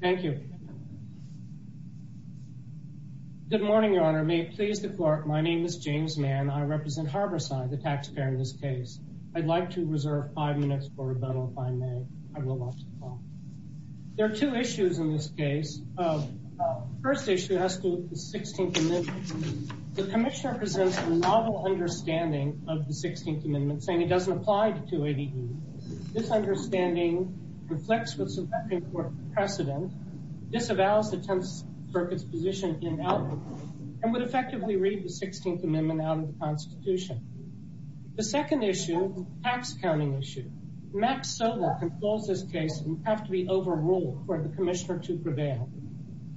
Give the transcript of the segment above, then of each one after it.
Thank you. Good morning, Your Honor. May it please the Court, my name is James Mann. I represent Harborside, the taxpayer in this case. I'd like to reserve five minutes for rebuttal if I may. I will watch the call. There are two issues in this case. The first issue has to do with the 16th Amendment. The Commissioner presents a novel understanding of the 16th Amendment, saying it doesn't apply to 280B. This understanding reflects what's a very important precedent. This avows the 10th Circuit's position in Albany and would effectively read the 16th Amendment out of the Constitution. The second issue is a tax accounting issue. Max Sobel controls this case and would have to be overruled for the Commissioner to prevail.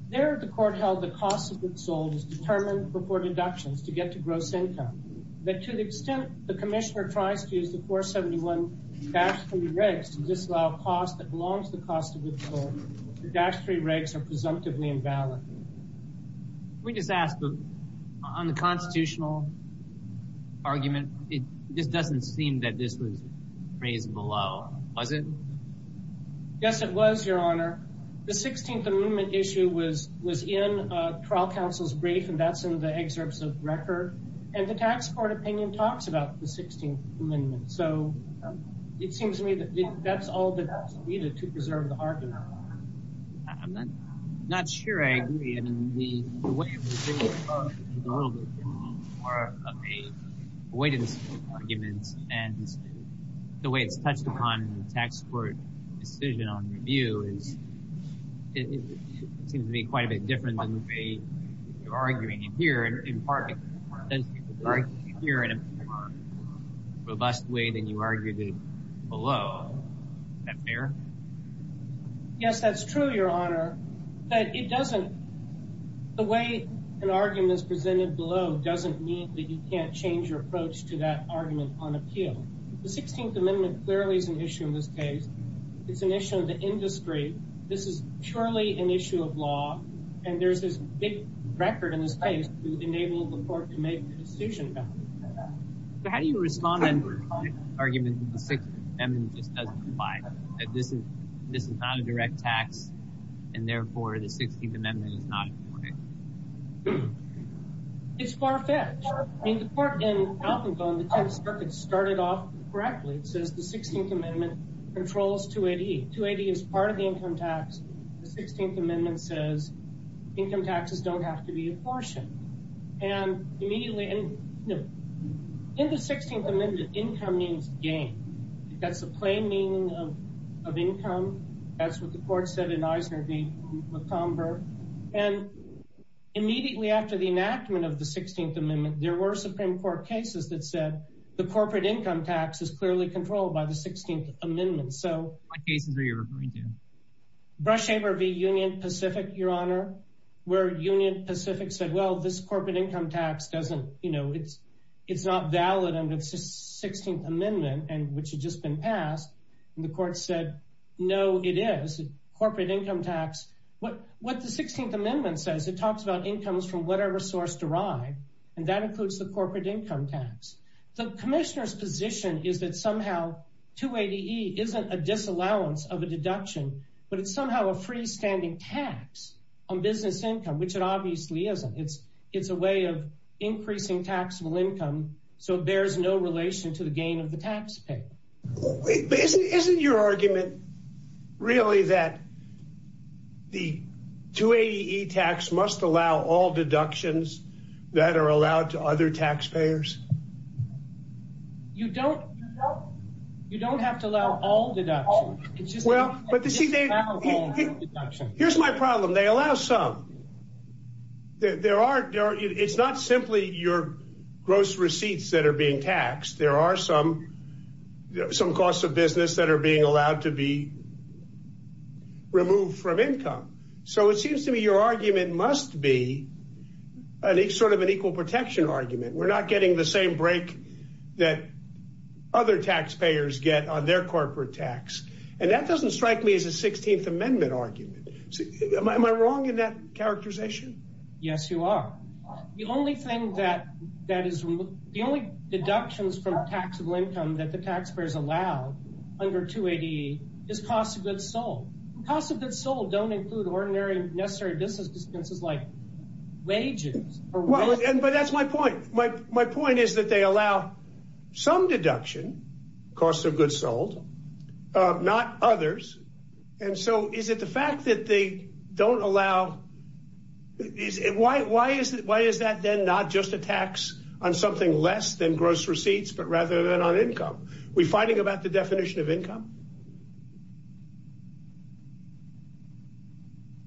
There, the Court held the cost of withhold is determined before deductions to get to gross income, but to the extent the Commissioner tries to use the 471-3 regs to disallow costs that belong to the cost of withhold, the 471-3 regs are presumptively invalid. Can we just ask, on the constitutional argument, it just doesn't seem that this was raised below, was it? Yes, it was, Your Honor. The 16th Amendment issue was in trial counsel's brief, and that's in the excerpts of record, and the tax court opinion talks about the 16th Amendment, so it seems to me that that's all that's needed to preserve the argument. I'm not sure I agree. I mean, the way it was raised is a little bit more of a weighted argument, and the way it's touched upon in the tax court decision on review seems to me quite a bit different than the way you're arguing it here, in part because you're arguing it here in a more robust way than you argued it below. Is that fair? Yes, that's true, Your Honor, but the way an argument is presented below doesn't mean that you can't change your approach to that argument on appeal. The 16th Amendment clearly is an issue in this case. It's an issue of the industry. This is purely an issue of law, and there's this big record in this case to enable the court to make the decision about it. How do you respond then to the argument that the 16th Amendment just doesn't apply, that this is not a direct tax, and therefore the 16th Amendment is not important? It's far-fetched. I mean, the court in Alconco in the 10th Circuit started off correctly. It says the 16th Amendment controls 280. 280 is part of the income tax. The 16th Amendment says income taxes don't have to be apportioned. In the 16th Amendment, income means gain. That's the plain meaning of income. That's what the court said in Eisner v. Montgomery. And immediately after the enactment of the 16th Amendment, there were Supreme Court cases that said the corporate income tax is clearly controlled by the 16th Amendment. What cases were you referring to? Brush Haber v. Union Pacific, Your Honor, where Union Pacific said, well, this corporate income tax doesn't, you know, it's not valid under the 16th Amendment, which had just been passed. And the court said, no, it is a corporate income tax. What the 16th Amendment says, it talks about incomes from whatever source derived, and that includes the corporate income tax. The commissioner's position is that somehow 280E isn't a disallowance of a deduction, but it's somehow a freestanding tax on business income, which it obviously isn't. It's a way of increasing taxable income, so it bears no relation to the gain of the taxpayer. Isn't your argument really that the 280E tax must allow all deductions that are allowed to other taxpayers? You don't have to allow all deductions. Here's my problem. They allow some. It's not simply your gross receipts that are being taxed. There are some costs of business that are being allowed to be removed from income. So it seems to me your argument must be sort of an equal protection argument. We're not getting the same break that other taxpayers get on their corporate tax. And that doesn't strike me as a 16th Amendment argument. Am I wrong in that characterization? Yes, you are. The only deductions from taxable income that the taxpayers allow under 280E is costs of goods sold. Costs of goods sold don't include ordinary necessary business expenses like wages. But that's my point. My point is that they allow some deduction, costs of goods sold, not others. And so is it the fact that they don't allow... Why is that then not just a tax on something less than gross receipts, but rather than on income? Are we fighting about the definition of income?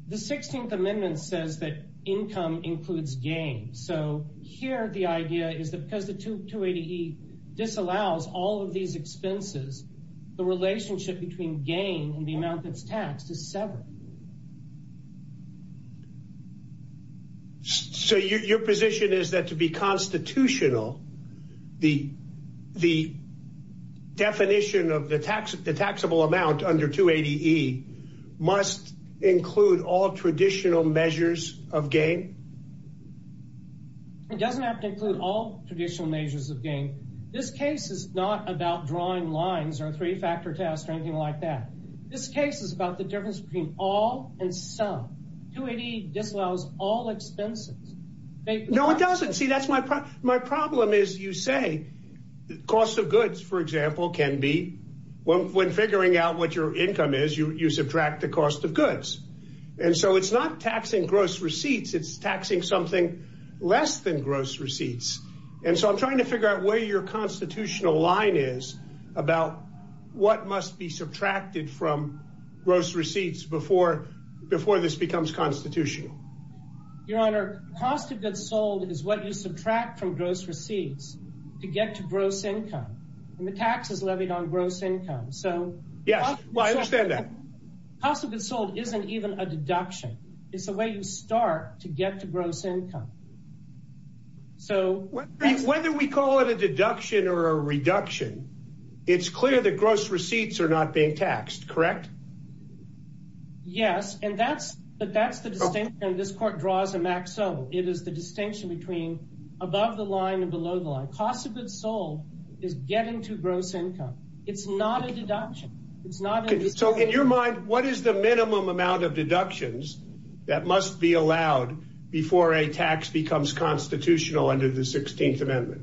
The 16th Amendment says that income includes gain. So here the idea is that because the 280E disallows all of these expenses, the relationship between gain and the amount that's taxed is severed. So your position is that to be constitutional, the definition of the taxable amount under 280E must include all traditional measures of gain? It doesn't have to include all traditional measures of gain. This case is not about drawing lines or three-factor tests or anything like that. This case is about the difference between all and some. 280E disallows all expenses. No, it doesn't. See, that's my problem. My problem is you say the cost of goods, for example, can be... When figuring out what your income is, you subtract the cost of goods. And so it's not taxing gross receipts. It's taxing something less than gross receipts. And so I'm trying to figure out where your constitutional line is about what must be subtracted from gross receipts before this becomes constitutional. Your Honor, cost of goods sold is what you subtract from gross receipts to get to gross income. And the tax is levied on gross income. So... Yes, well, I understand that. Cost of goods sold isn't even a deduction. It's a way you start to get to gross income. So... Whether we call it a deduction or a reduction, it's clear that gross receipts are not being taxed, correct? Yes, and that's the distinction this Court draws in Max Ohm. It is the distinction between above the line and below the line. Cost of goods sold is getting to gross income. It's not a deduction. It's not a... So in your mind, what is the minimum amount of deductions that must be allowed before a tax becomes constitutional under the 16th Amendment?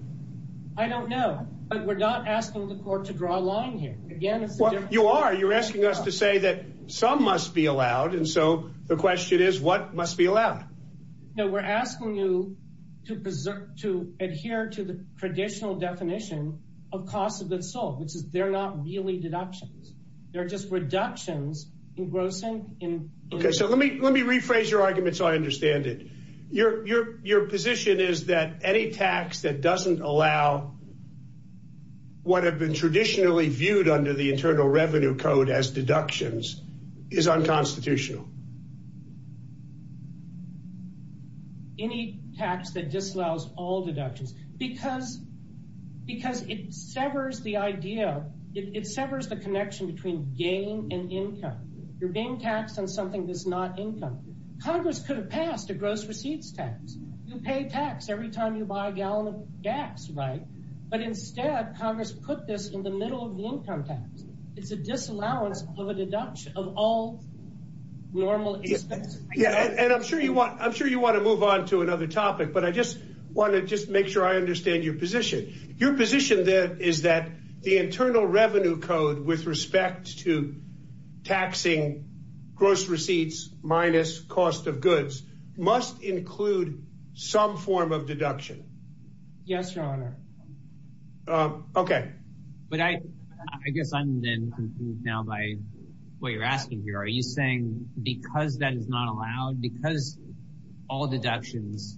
I don't know, but we're not asking the Court to draw a line here. Again, it's a... You are. You're asking us to say that some must be allowed. And so the question is, what must be allowed? No, we're asking you to adhere to the traditional definition of cost of goods sold, which is they're not really deductions. They're just reductions in gross income. Okay, so let me rephrase your argument so I understand it. Your position is that any tax that doesn't allow what have been traditionally viewed under the Internal Revenue Code as deductions is unconstitutional. Any tax that disallows all deductions. Because it severs the idea, it severs the connection between gain and income. You're being taxed on something that's not income. Congress could have passed a gross receipts tax. You pay tax every time you buy a gallon of gas, right? But instead, Congress put this in the middle of the income tax. It's a disallowance of a deduction of all normal expenses. And I'm sure you want to move on to another topic, but I just want to just make sure I understand your position. Your position is that the Internal Revenue Code with respect to taxing gross receipts minus cost of goods must include some form of deduction. Yes, Your Honor. Okay. But I guess I'm then confused now by what you're asking here. Are you saying because that is not allowed, because all deductions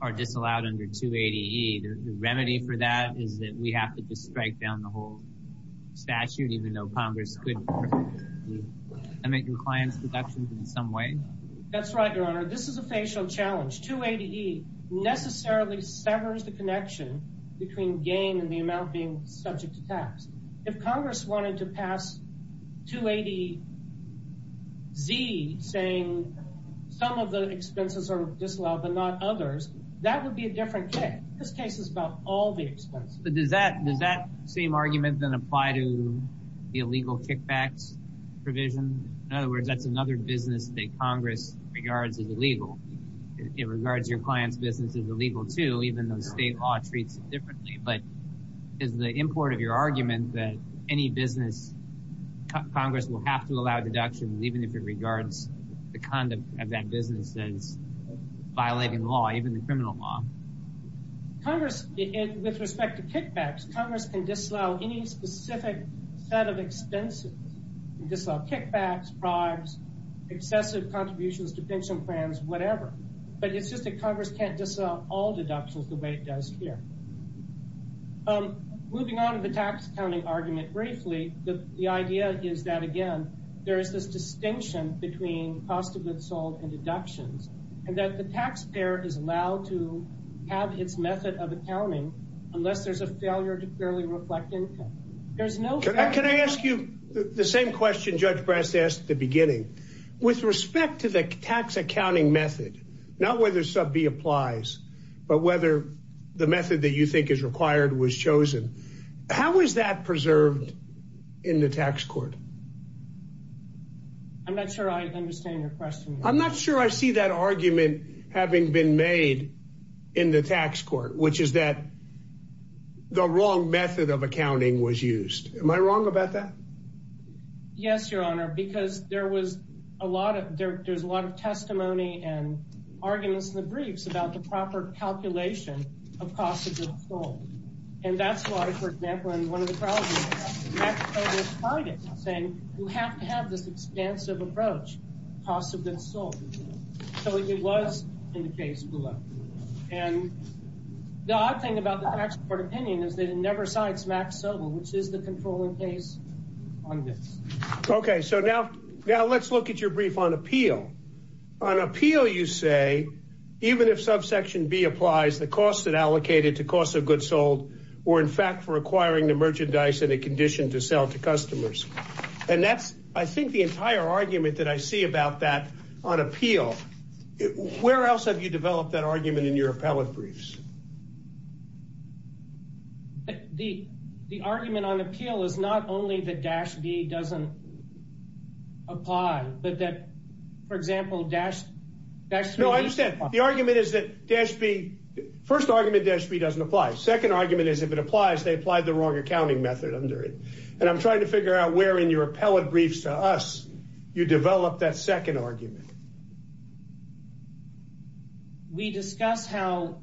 are disallowed under 280E, the remedy for that is that we have to just strike down the whole statute even though Congress could permit compliance deductions in some way? That's right, Your Honor. This is a facial challenge. 280E necessarily severs the connection between gain and the amount being subject to tax. If Congress wanted to pass 280Z saying some of the expenses are disallowed but not others, that would be a different case. This case is about all the expenses. But does that same argument then apply to the illegal kickbacks provision? In other words, that's another business that Congress regards as illegal. It regards your client's business as illegal, too, even though state law treats it differently. But is the import of your argument that any business, Congress will have to allow deductions even if it regards the conduct of that business as violating law, even the criminal law? Congress, with respect to kickbacks, Congress can disallow any specific set of expenses. It can disallow kickbacks, bribes, excessive contributions to pension plans, whatever. But it's just that Congress can't disallow all deductions the way it does here. Moving on to the tax accounting argument briefly, the idea is that, again, there is this distinction between cost of goods sold and deductions, and that the taxpayer is allowed to have its method of accounting unless there's a failure to clearly reflect income. Can I ask you the same question Judge Brast asked at the beginning? With respect to the tax accounting method, not whether sub B applies, but whether the method that you think is required was chosen, how is that preserved in the tax court? I'm not sure I understand your question. I'm not sure I see that argument having been made in the tax court, which is that the wrong method of accounting was used. Am I wrong about that? Yes, Your Honor, because there was a lot of, there's a lot of testimony and arguments in the briefs about the proper calculation of cost of goods sold. And that's why, for example, in one of the trials, Max Sobel denied it, saying you have to have this expansive approach, cost of goods sold. So it was in the case below. And the odd thing about the tax court opinion is that it never cites Max Sobel, which is the controlling case on this. OK, so now now let's look at your brief on appeal. On appeal, you say, even if subsection B applies, the costs that allocated to cost of goods sold were, in fact, requiring the merchandise in a condition to sell to customers. And that's, I think, the entire argument that I see about that on appeal. Where else have you developed that argument in your appellate briefs? The argument on appeal is not only that dash B doesn't apply, but that, for example, dash B. No, I understand. The argument is that dash B, first argument dash B doesn't apply. Second argument is if it applies, they applied the wrong accounting method under it. And I'm trying to figure out where in your appellate briefs to us you develop that second argument. We discuss how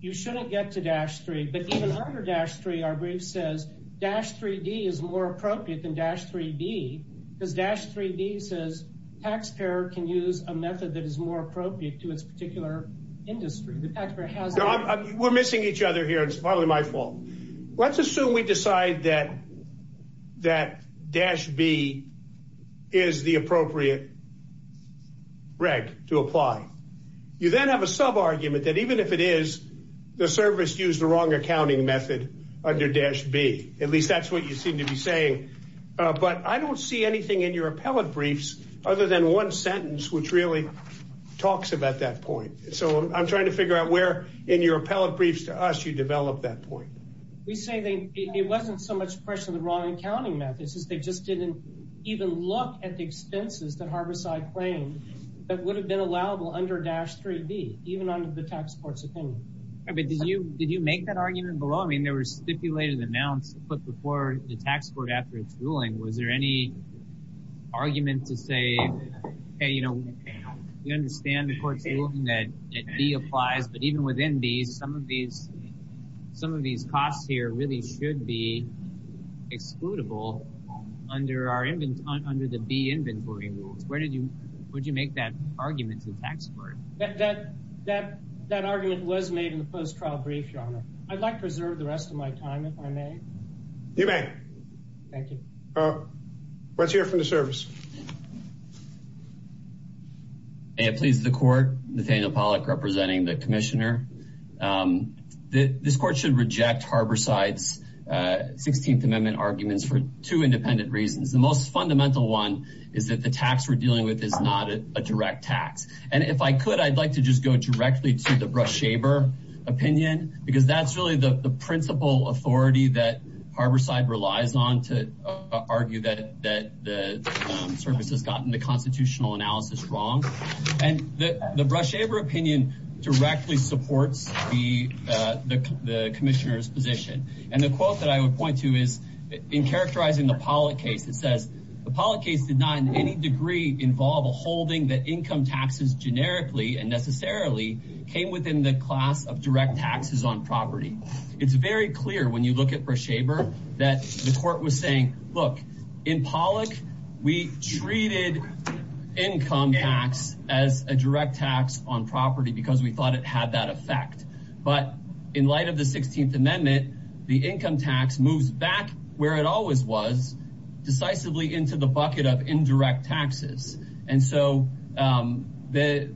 you shouldn't get to dash three, but even under dash three, our brief says dash 3D is more appropriate than dash 3D because dash 3D says taxpayer can use a method that is more appropriate to its particular industry. We're missing each other here. It's partly my fault. Let's assume we decide that that dash B is the appropriate reg to apply. You then have a sub argument that even if it is, the service used the wrong accounting method under dash B. At least that's what you seem to be saying. But I don't see anything in your appellate briefs other than one sentence which really talks about that point. So I'm trying to figure out where in your appellate briefs to us you develop that point. We say it wasn't so much a question of the wrong accounting method, it's just they just didn't even look at the expenses that Harborside claimed that would have been allowable under dash 3D, even under the tax court's opinion. Did you make that argument below? I mean, there were stipulated amounts put before the tax court after its ruling. Was there any argument to say, hey, you know, we understand the court's ruling that B applies, but even within B, some of these costs here really should be excludable under the B inventory rules. Would you make that argument to the tax court? That argument was made in the post-trial brief, Your Honor. I'd like to reserve the rest of my time, if I may. You may. Thank you. Let's hear from the service. May it please the court. Nathaniel Pollack representing the commissioner. This court should reject Harborside's 16th Amendment arguments for two independent reasons. The most fundamental one is that the tax we're dealing with is not a direct tax. And if I could, I'd like to just go directly to the Brush-Shaber opinion, because that's really the principal authority that Harborside relies on to argue that the service has gotten the constitutional analysis wrong. And the Brush-Shaber opinion directly supports the commissioner's position. And the quote that I would point to is in characterizing the Pollack case, it says, the Pollack case did not in any degree involve a holding that income taxes generically and necessarily came within the class of direct taxes on property. It's very clear when you look at Brush-Shaber that the court was saying, look, in Pollack, we treated income tax as a direct tax on property because we thought it had that effect. But in light of the 16th Amendment, the income tax moves back where it always was, decisively into the bucket of indirect taxes. And so the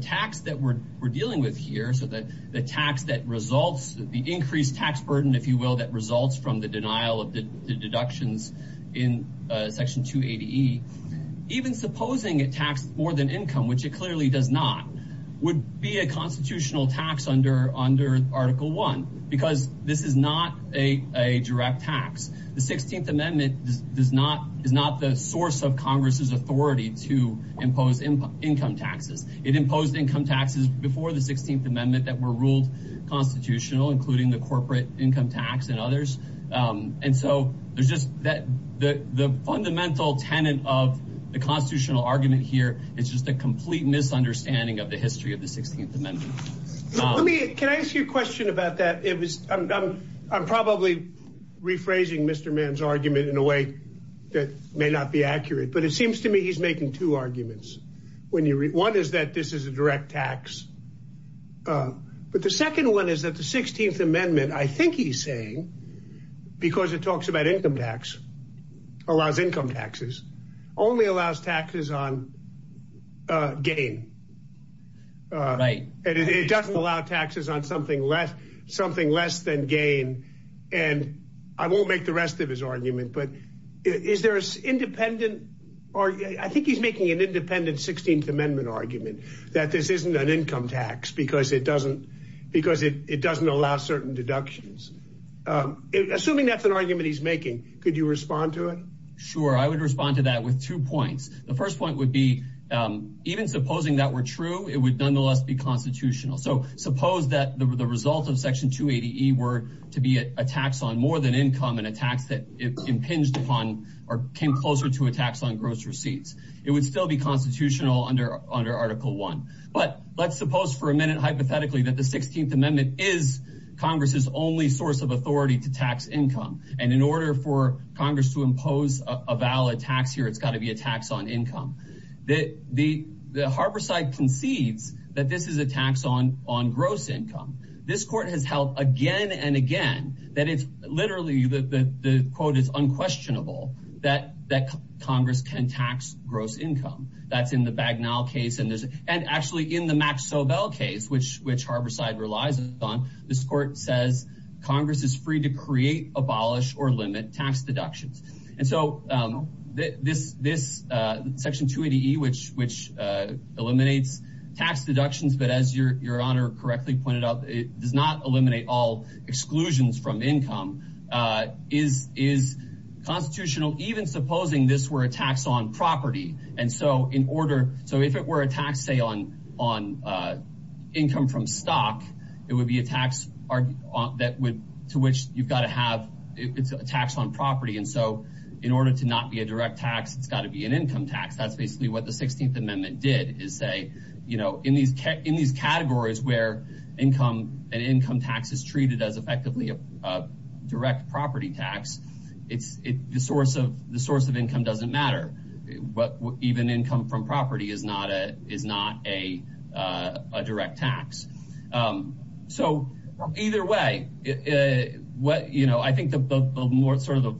tax that we're dealing with here, so the tax that results, the increased tax burden, if you will, that results from the denial of the deductions in Section 280E, even supposing it taxed more than income, which it clearly does not, would be a constitutional tax under Article 1 because this is not a direct tax. The 16th Amendment is not the source of Congress's authority to impose income taxes. It imposed income taxes before the 16th Amendment that were ruled constitutional, including the corporate income tax and others. And so there's just that the fundamental tenant of the constitutional argument here is just a complete misunderstanding of the history of the 16th Amendment. Can I ask you a question about that? I'm probably rephrasing Mr. Mann's argument in a way that may not be accurate, but it seems to me he's making two arguments. One is that this is a direct tax. But the second one is that the 16th Amendment, I think he's saying, because it talks about income tax, allows income taxes, only allows taxes on gain. Right. And it doesn't allow taxes on something less than gain. And I won't make the rest of his argument, but I think he's making an independent 16th Amendment argument that this isn't an income tax because it doesn't allow certain deductions. Assuming that's an argument he's making, could you respond to it? Sure, I would respond to that with two points. The first point would be, even supposing that were true, it would nonetheless be constitutional. So suppose that the result of Section 280E were to be a tax on more than income and a tax that impinged upon or came closer to a tax on gross receipts. It would still be constitutional under Article 1. But let's suppose for a minute, hypothetically, that the 16th Amendment is Congress's only source of authority to tax income. And in order for Congress to impose a valid tax here, it's got to be a tax on income. The Harborside concedes that this is a tax on gross income. This court has held again and again that it's literally, the quote is unquestionable, that Congress can tax gross income. That's in the Bagnall case. And actually in the Max Sobel case, which Harborside relies on, this court says Congress is free to create, abolish, or limit tax deductions. And so this Section 280E, which eliminates tax deductions, but as Your Honor correctly pointed out, it does not eliminate all exclusions from income, is constitutional, even supposing this were a tax on property. And so in order, so if it were a tax say on income from stock, it would be a tax to which you've got to have, it's a tax on property. And so in order to not be a direct tax, it's got to be an income tax. That's basically what the 16th Amendment did is say, you know, in these categories where an income tax is treated as effectively a direct property tax, the source of income doesn't matter. But even income from property is not a direct tax. So either way, what, you know, I think the more sort of the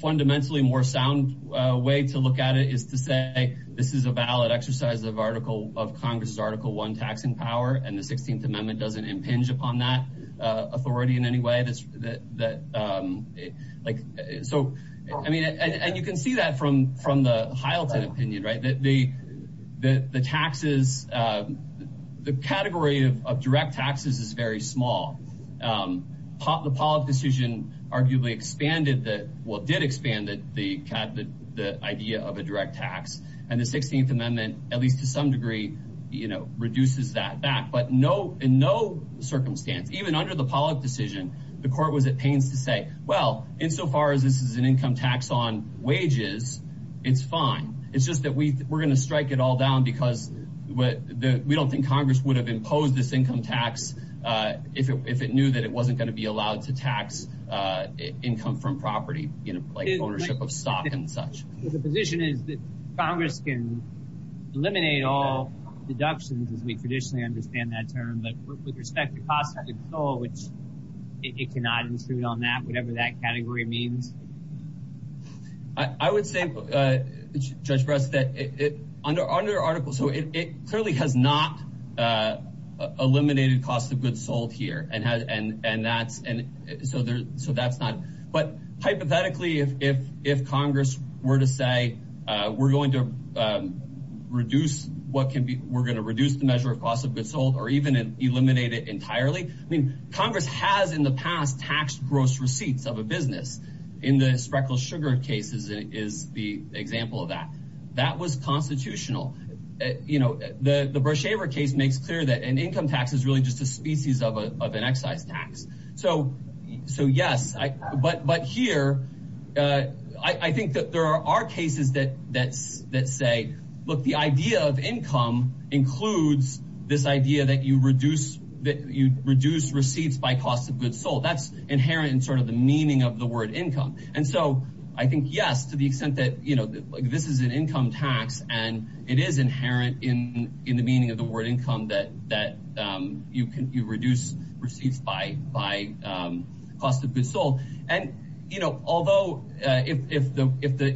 fundamentally more sound way to look at it is to say this is a valid exercise of article, of Congress's Article 1 taxing power, and the 16th Amendment doesn't impinge upon that authority in any way. So, I mean, and you can see that from the Hylton opinion, right, that the taxes, the category of direct taxes is very small. The Pollock decision arguably expanded the, well, did expand the idea of a direct tax, and the 16th Amendment, at least to some degree, you know, reduces that back. But in no circumstance, even under the Pollock decision, the court was at pains to say, well, insofar as this is an income tax on wages, it's fine. It's just that we're going to strike it all down because we don't think Congress would have imposed this income tax if it knew that it wasn't going to be allowed to tax income from property, you know, like ownership of stock and such. So the position is that Congress can eliminate all deductions, as we traditionally understand that term, but with respect to cost of goods sold, which it cannot intrude on that, whatever that category means? I would say, Judge Brest, that under article, so it clearly has not eliminated cost of goods sold here, and that's, so that's not, but hypothetically, if Congress were to say we're going to reduce what can be, we're going to reduce the measure of cost of goods sold or even eliminate it entirely, I mean, Congress has in the past taxed gross receipts of a business. In the Spreckels Sugar case is the example of that. That was constitutional. You know, the Breshever case makes clear that an income tax is really just a species of an excise tax. So yes, but here, I think that there are cases that say, look, the idea of income includes this idea that you reduce receipts by cost of goods sold. That's inherent in sort of the meaning of the word income. And so I think, yes, to the extent that, you know, this is an income tax, and it is inherent in the meaning of the word income that you reduce receipts by cost of goods sold. And, you know, although if the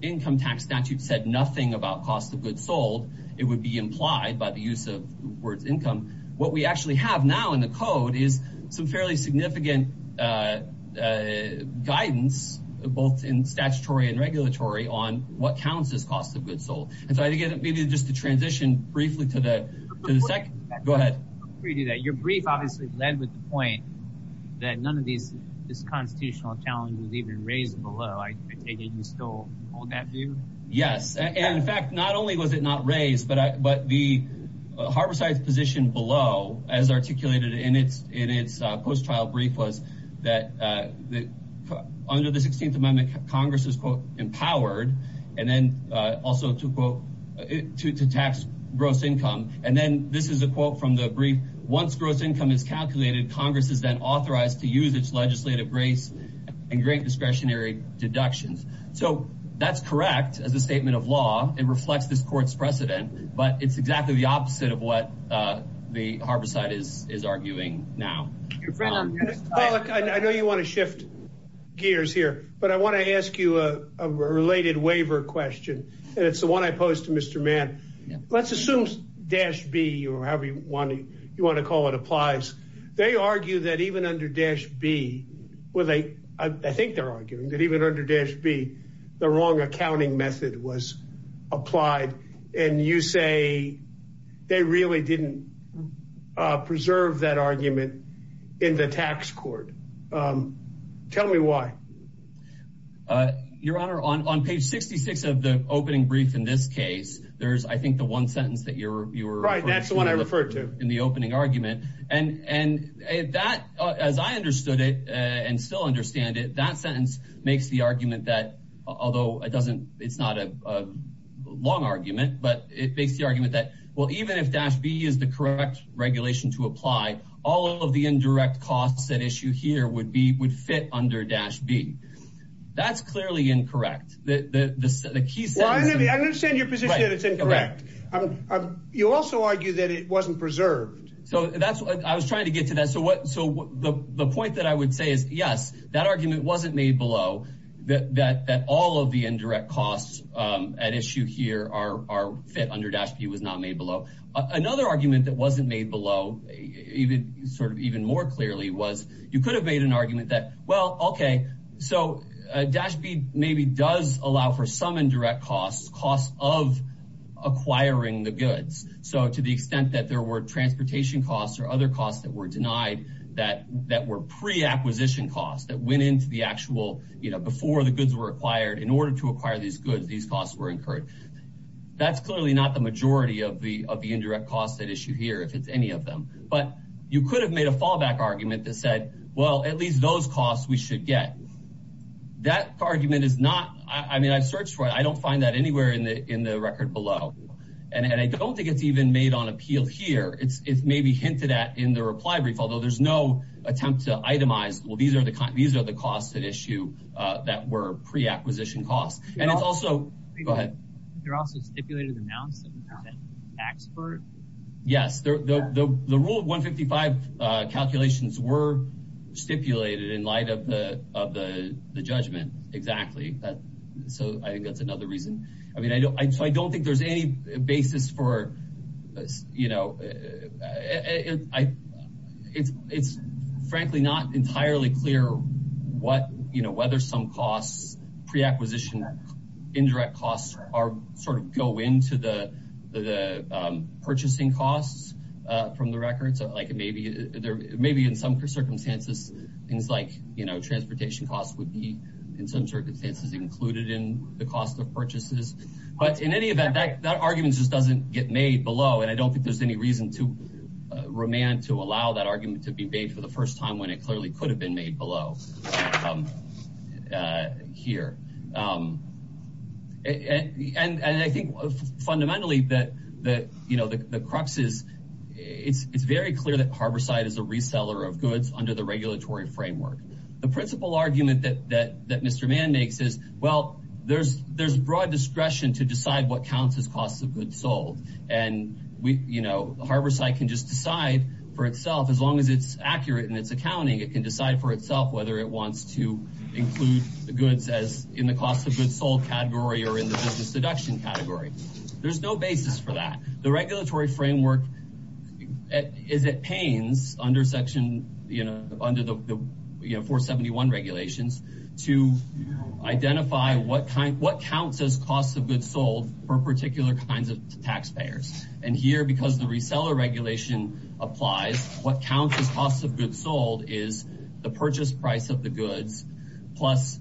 income tax statute said nothing about cost of goods sold, it would be implied by the use of the word income. What we actually have now in the code is some fairly significant guidance, both in statutory and regulatory, on what counts as cost of goods sold. And so I think maybe just to transition briefly to the second, go ahead. Before you do that, your brief obviously led with the point that none of this constitutional challenge was even raised below. I take it you still hold that view? Yes. And in fact, not only was it not raised, but the harborside position below, as articulated in its post-trial brief, was that under the 16th Amendment, Congress is, quote, empowered. And then also to, quote, to tax gross income. And then this is a quote from the brief. Once gross income is calculated, Congress is then authorized to use its legislative grace in great discretionary deductions. So that's correct as a statement of law. It reflects this court's precedent. But it's exactly the opposite of what the harborside is arguing now. I know you want to shift gears here, but I want to ask you a related waiver question, and it's the one I posed to Mr. Mann. Let's assume Dash B, or however you want to call it, applies. They argue that even under Dash B, well, I think they're arguing that even under Dash B, the wrong accounting method was applied. And you say they really didn't preserve that argument in the tax court. Tell me why. Your Honor, on page 66 of the opening brief in this case, there's, I think, the one sentence that you were referring to. Right, that's the one I referred to. In the opening argument. And that, as I understood it and still understand it, that sentence makes the argument that, although it's not a long argument, but it makes the argument that, well, even if Dash B is the correct regulation to apply, all of the indirect costs at issue here would fit under Dash B. That's clearly incorrect. Well, I understand your position that it's incorrect. You also argue that it wasn't preserved. I was trying to get to that. The point that I would say is, yes, that argument wasn't made below, that all of the indirect costs at issue here fit under Dash B was not made below. Another argument that wasn't made below, sort of even more clearly, was you could have made an argument that, well, okay, so Dash B maybe does allow for some indirect costs, costs of acquiring the goods. So to the extent that there were transportation costs or other costs that were denied that were preacquisition costs that went into the actual, you know, before the goods were acquired, in order to acquire these goods, these costs were incurred. That's clearly not the majority of the indirect costs at issue here, if it's any of them. But you could have made a fallback argument that said, well, at least those costs we should get. That argument is not, I mean, I've searched for it. I don't find that anywhere in the record below. And I don't think it's even made on appeal here. It's maybe hinted at in the reply brief, although there's no attempt to itemize, well, these are the costs at issue that were preacquisition costs. And it's also, go ahead. They're also stipulated amounts that we pay tax for? Yes. The Rule 155 calculations were stipulated in light of the judgment, exactly. So I think that's another reason. I mean, so I don't think there's any basis for, you know, it's frankly not entirely clear what, you know, whether some costs, preacquisition indirect costs, sort of go into the purchasing costs from the records. Like maybe in some circumstances, things like, you know, But in any event, that argument just doesn't get made below. And I don't think there's any reason to remand, to allow that argument to be made for the first time when it clearly could have been made below here. And I think fundamentally that, you know, the crux is, it's very clear that Harborside is a reseller of goods under the regulatory framework. The principal argument that Mr. Mann makes is, well, there's broad discretion to decide what counts as costs of goods sold. And, you know, Harborside can just decide for itself, as long as it's accurate in its accounting, it can decide for itself whether it wants to include the goods as in the cost of goods sold category or in the business deduction category. There's no basis for that. The regulatory framework is at pains under section, you know, under the 471 regulations, to identify what counts as costs of goods sold for particular kinds of taxpayers. And here, because the reseller regulation applies, what counts as costs of goods sold is the purchase price of the goods, plus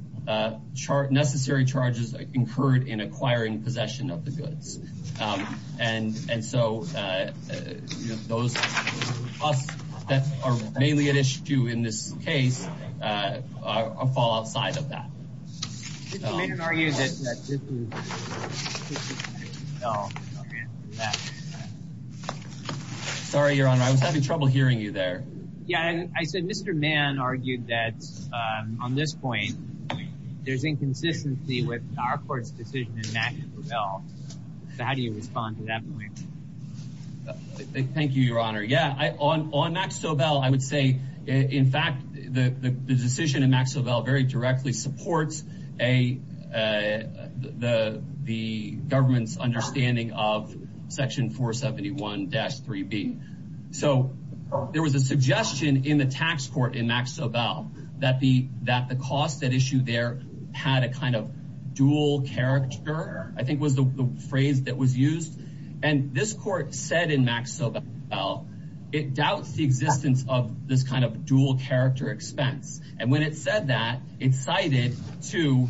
necessary charges incurred in acquiring possession of the goods. And so, you know, those costs that are mainly at issue in this case fall outside of that. Sorry, Your Honor, I was having trouble hearing you there. Yeah, I said Mr. Mann argued that on this point, there's inconsistency with our court's decision in Max Sobel. So how do you respond to that point? Thank you, Your Honor. Yeah, on Max Sobel, I would say, in fact, the decision in Max Sobel very directly supports the government's understanding of section 471-3B. So there was a suggestion in the tax court in Max Sobel that the cost at issue there had a kind of dual character, I think was the phrase that was used. And this court said in Max Sobel, it doubts the existence of this kind of dual character expense. And when it said that, it cited to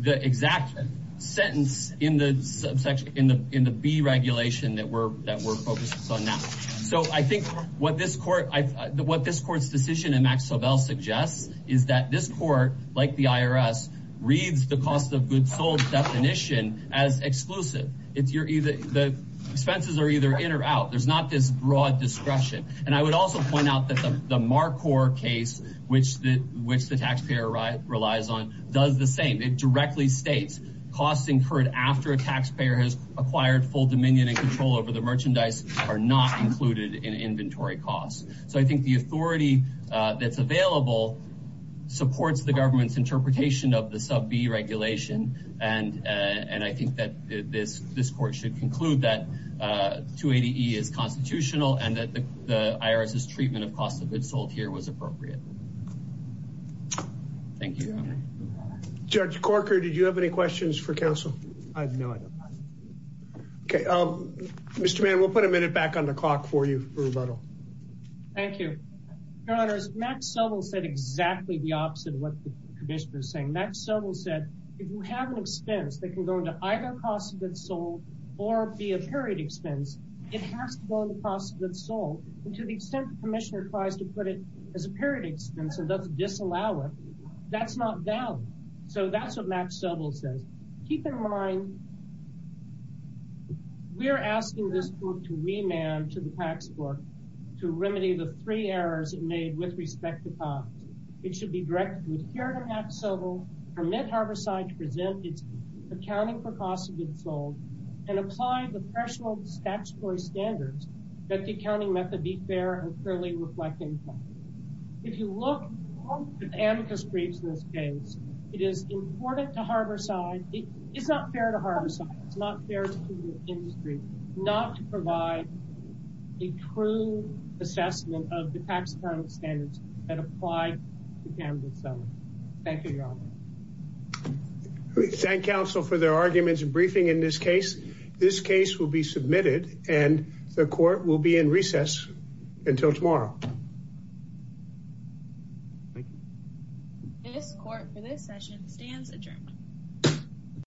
the exact sentence in the B regulation that we're focused on now. So I think what this court's decision in Max Sobel suggests is that this court, like the IRS, reads the cost of goods sold definition as exclusive. The expenses are either in or out. There's not this broad discretion. And I would also point out that the MarCor case, which the taxpayer relies on, does the same. It directly states costs incurred after a taxpayer has acquired full dominion and control over the merchandise are not included in inventory costs. So I think the authority that's available supports the government's interpretation of the sub B regulation. And I think that this court should conclude that 280E is constitutional and that the IRS's treatment of cost of goods sold here was appropriate. Thank you. Judge Corker, did you have any questions for counsel? No, I don't. Okay. Mr. Mann, we'll put a minute back on the clock for you for rebuttal. Thank you. Your Honor, Max Sobel said exactly the opposite of what the commissioner is saying. Max Sobel said if you have an expense that can go into either cost of goods sold or be a period expense, it has to go into cost of goods sold. And to the extent the commissioner tries to put it as a period expense and doesn't disallow it, that's not valid. So that's what Max Sobel says. Keep in mind, we are asking this court to remand to the tax court to remedy the three errors it made with respect to cost. It should be directed to adhere to Max Sobel, permit Harborside to present its accounting for cost of goods sold, and apply the threshold statutory standards that the accounting method be fair and fairly reflective. If you look at amicus briefs in this case, it is important to Harborside. It's not fair to Harborside. It's not fair to the industry not to provide a true assessment of the tax accounting standards that apply to Canada's sellers. Thank you, Your Honor. We thank counsel for their arguments and briefing in this case. This case will be submitted, and the court will be in recess until tomorrow. Thank you. This court for this session stands adjourned.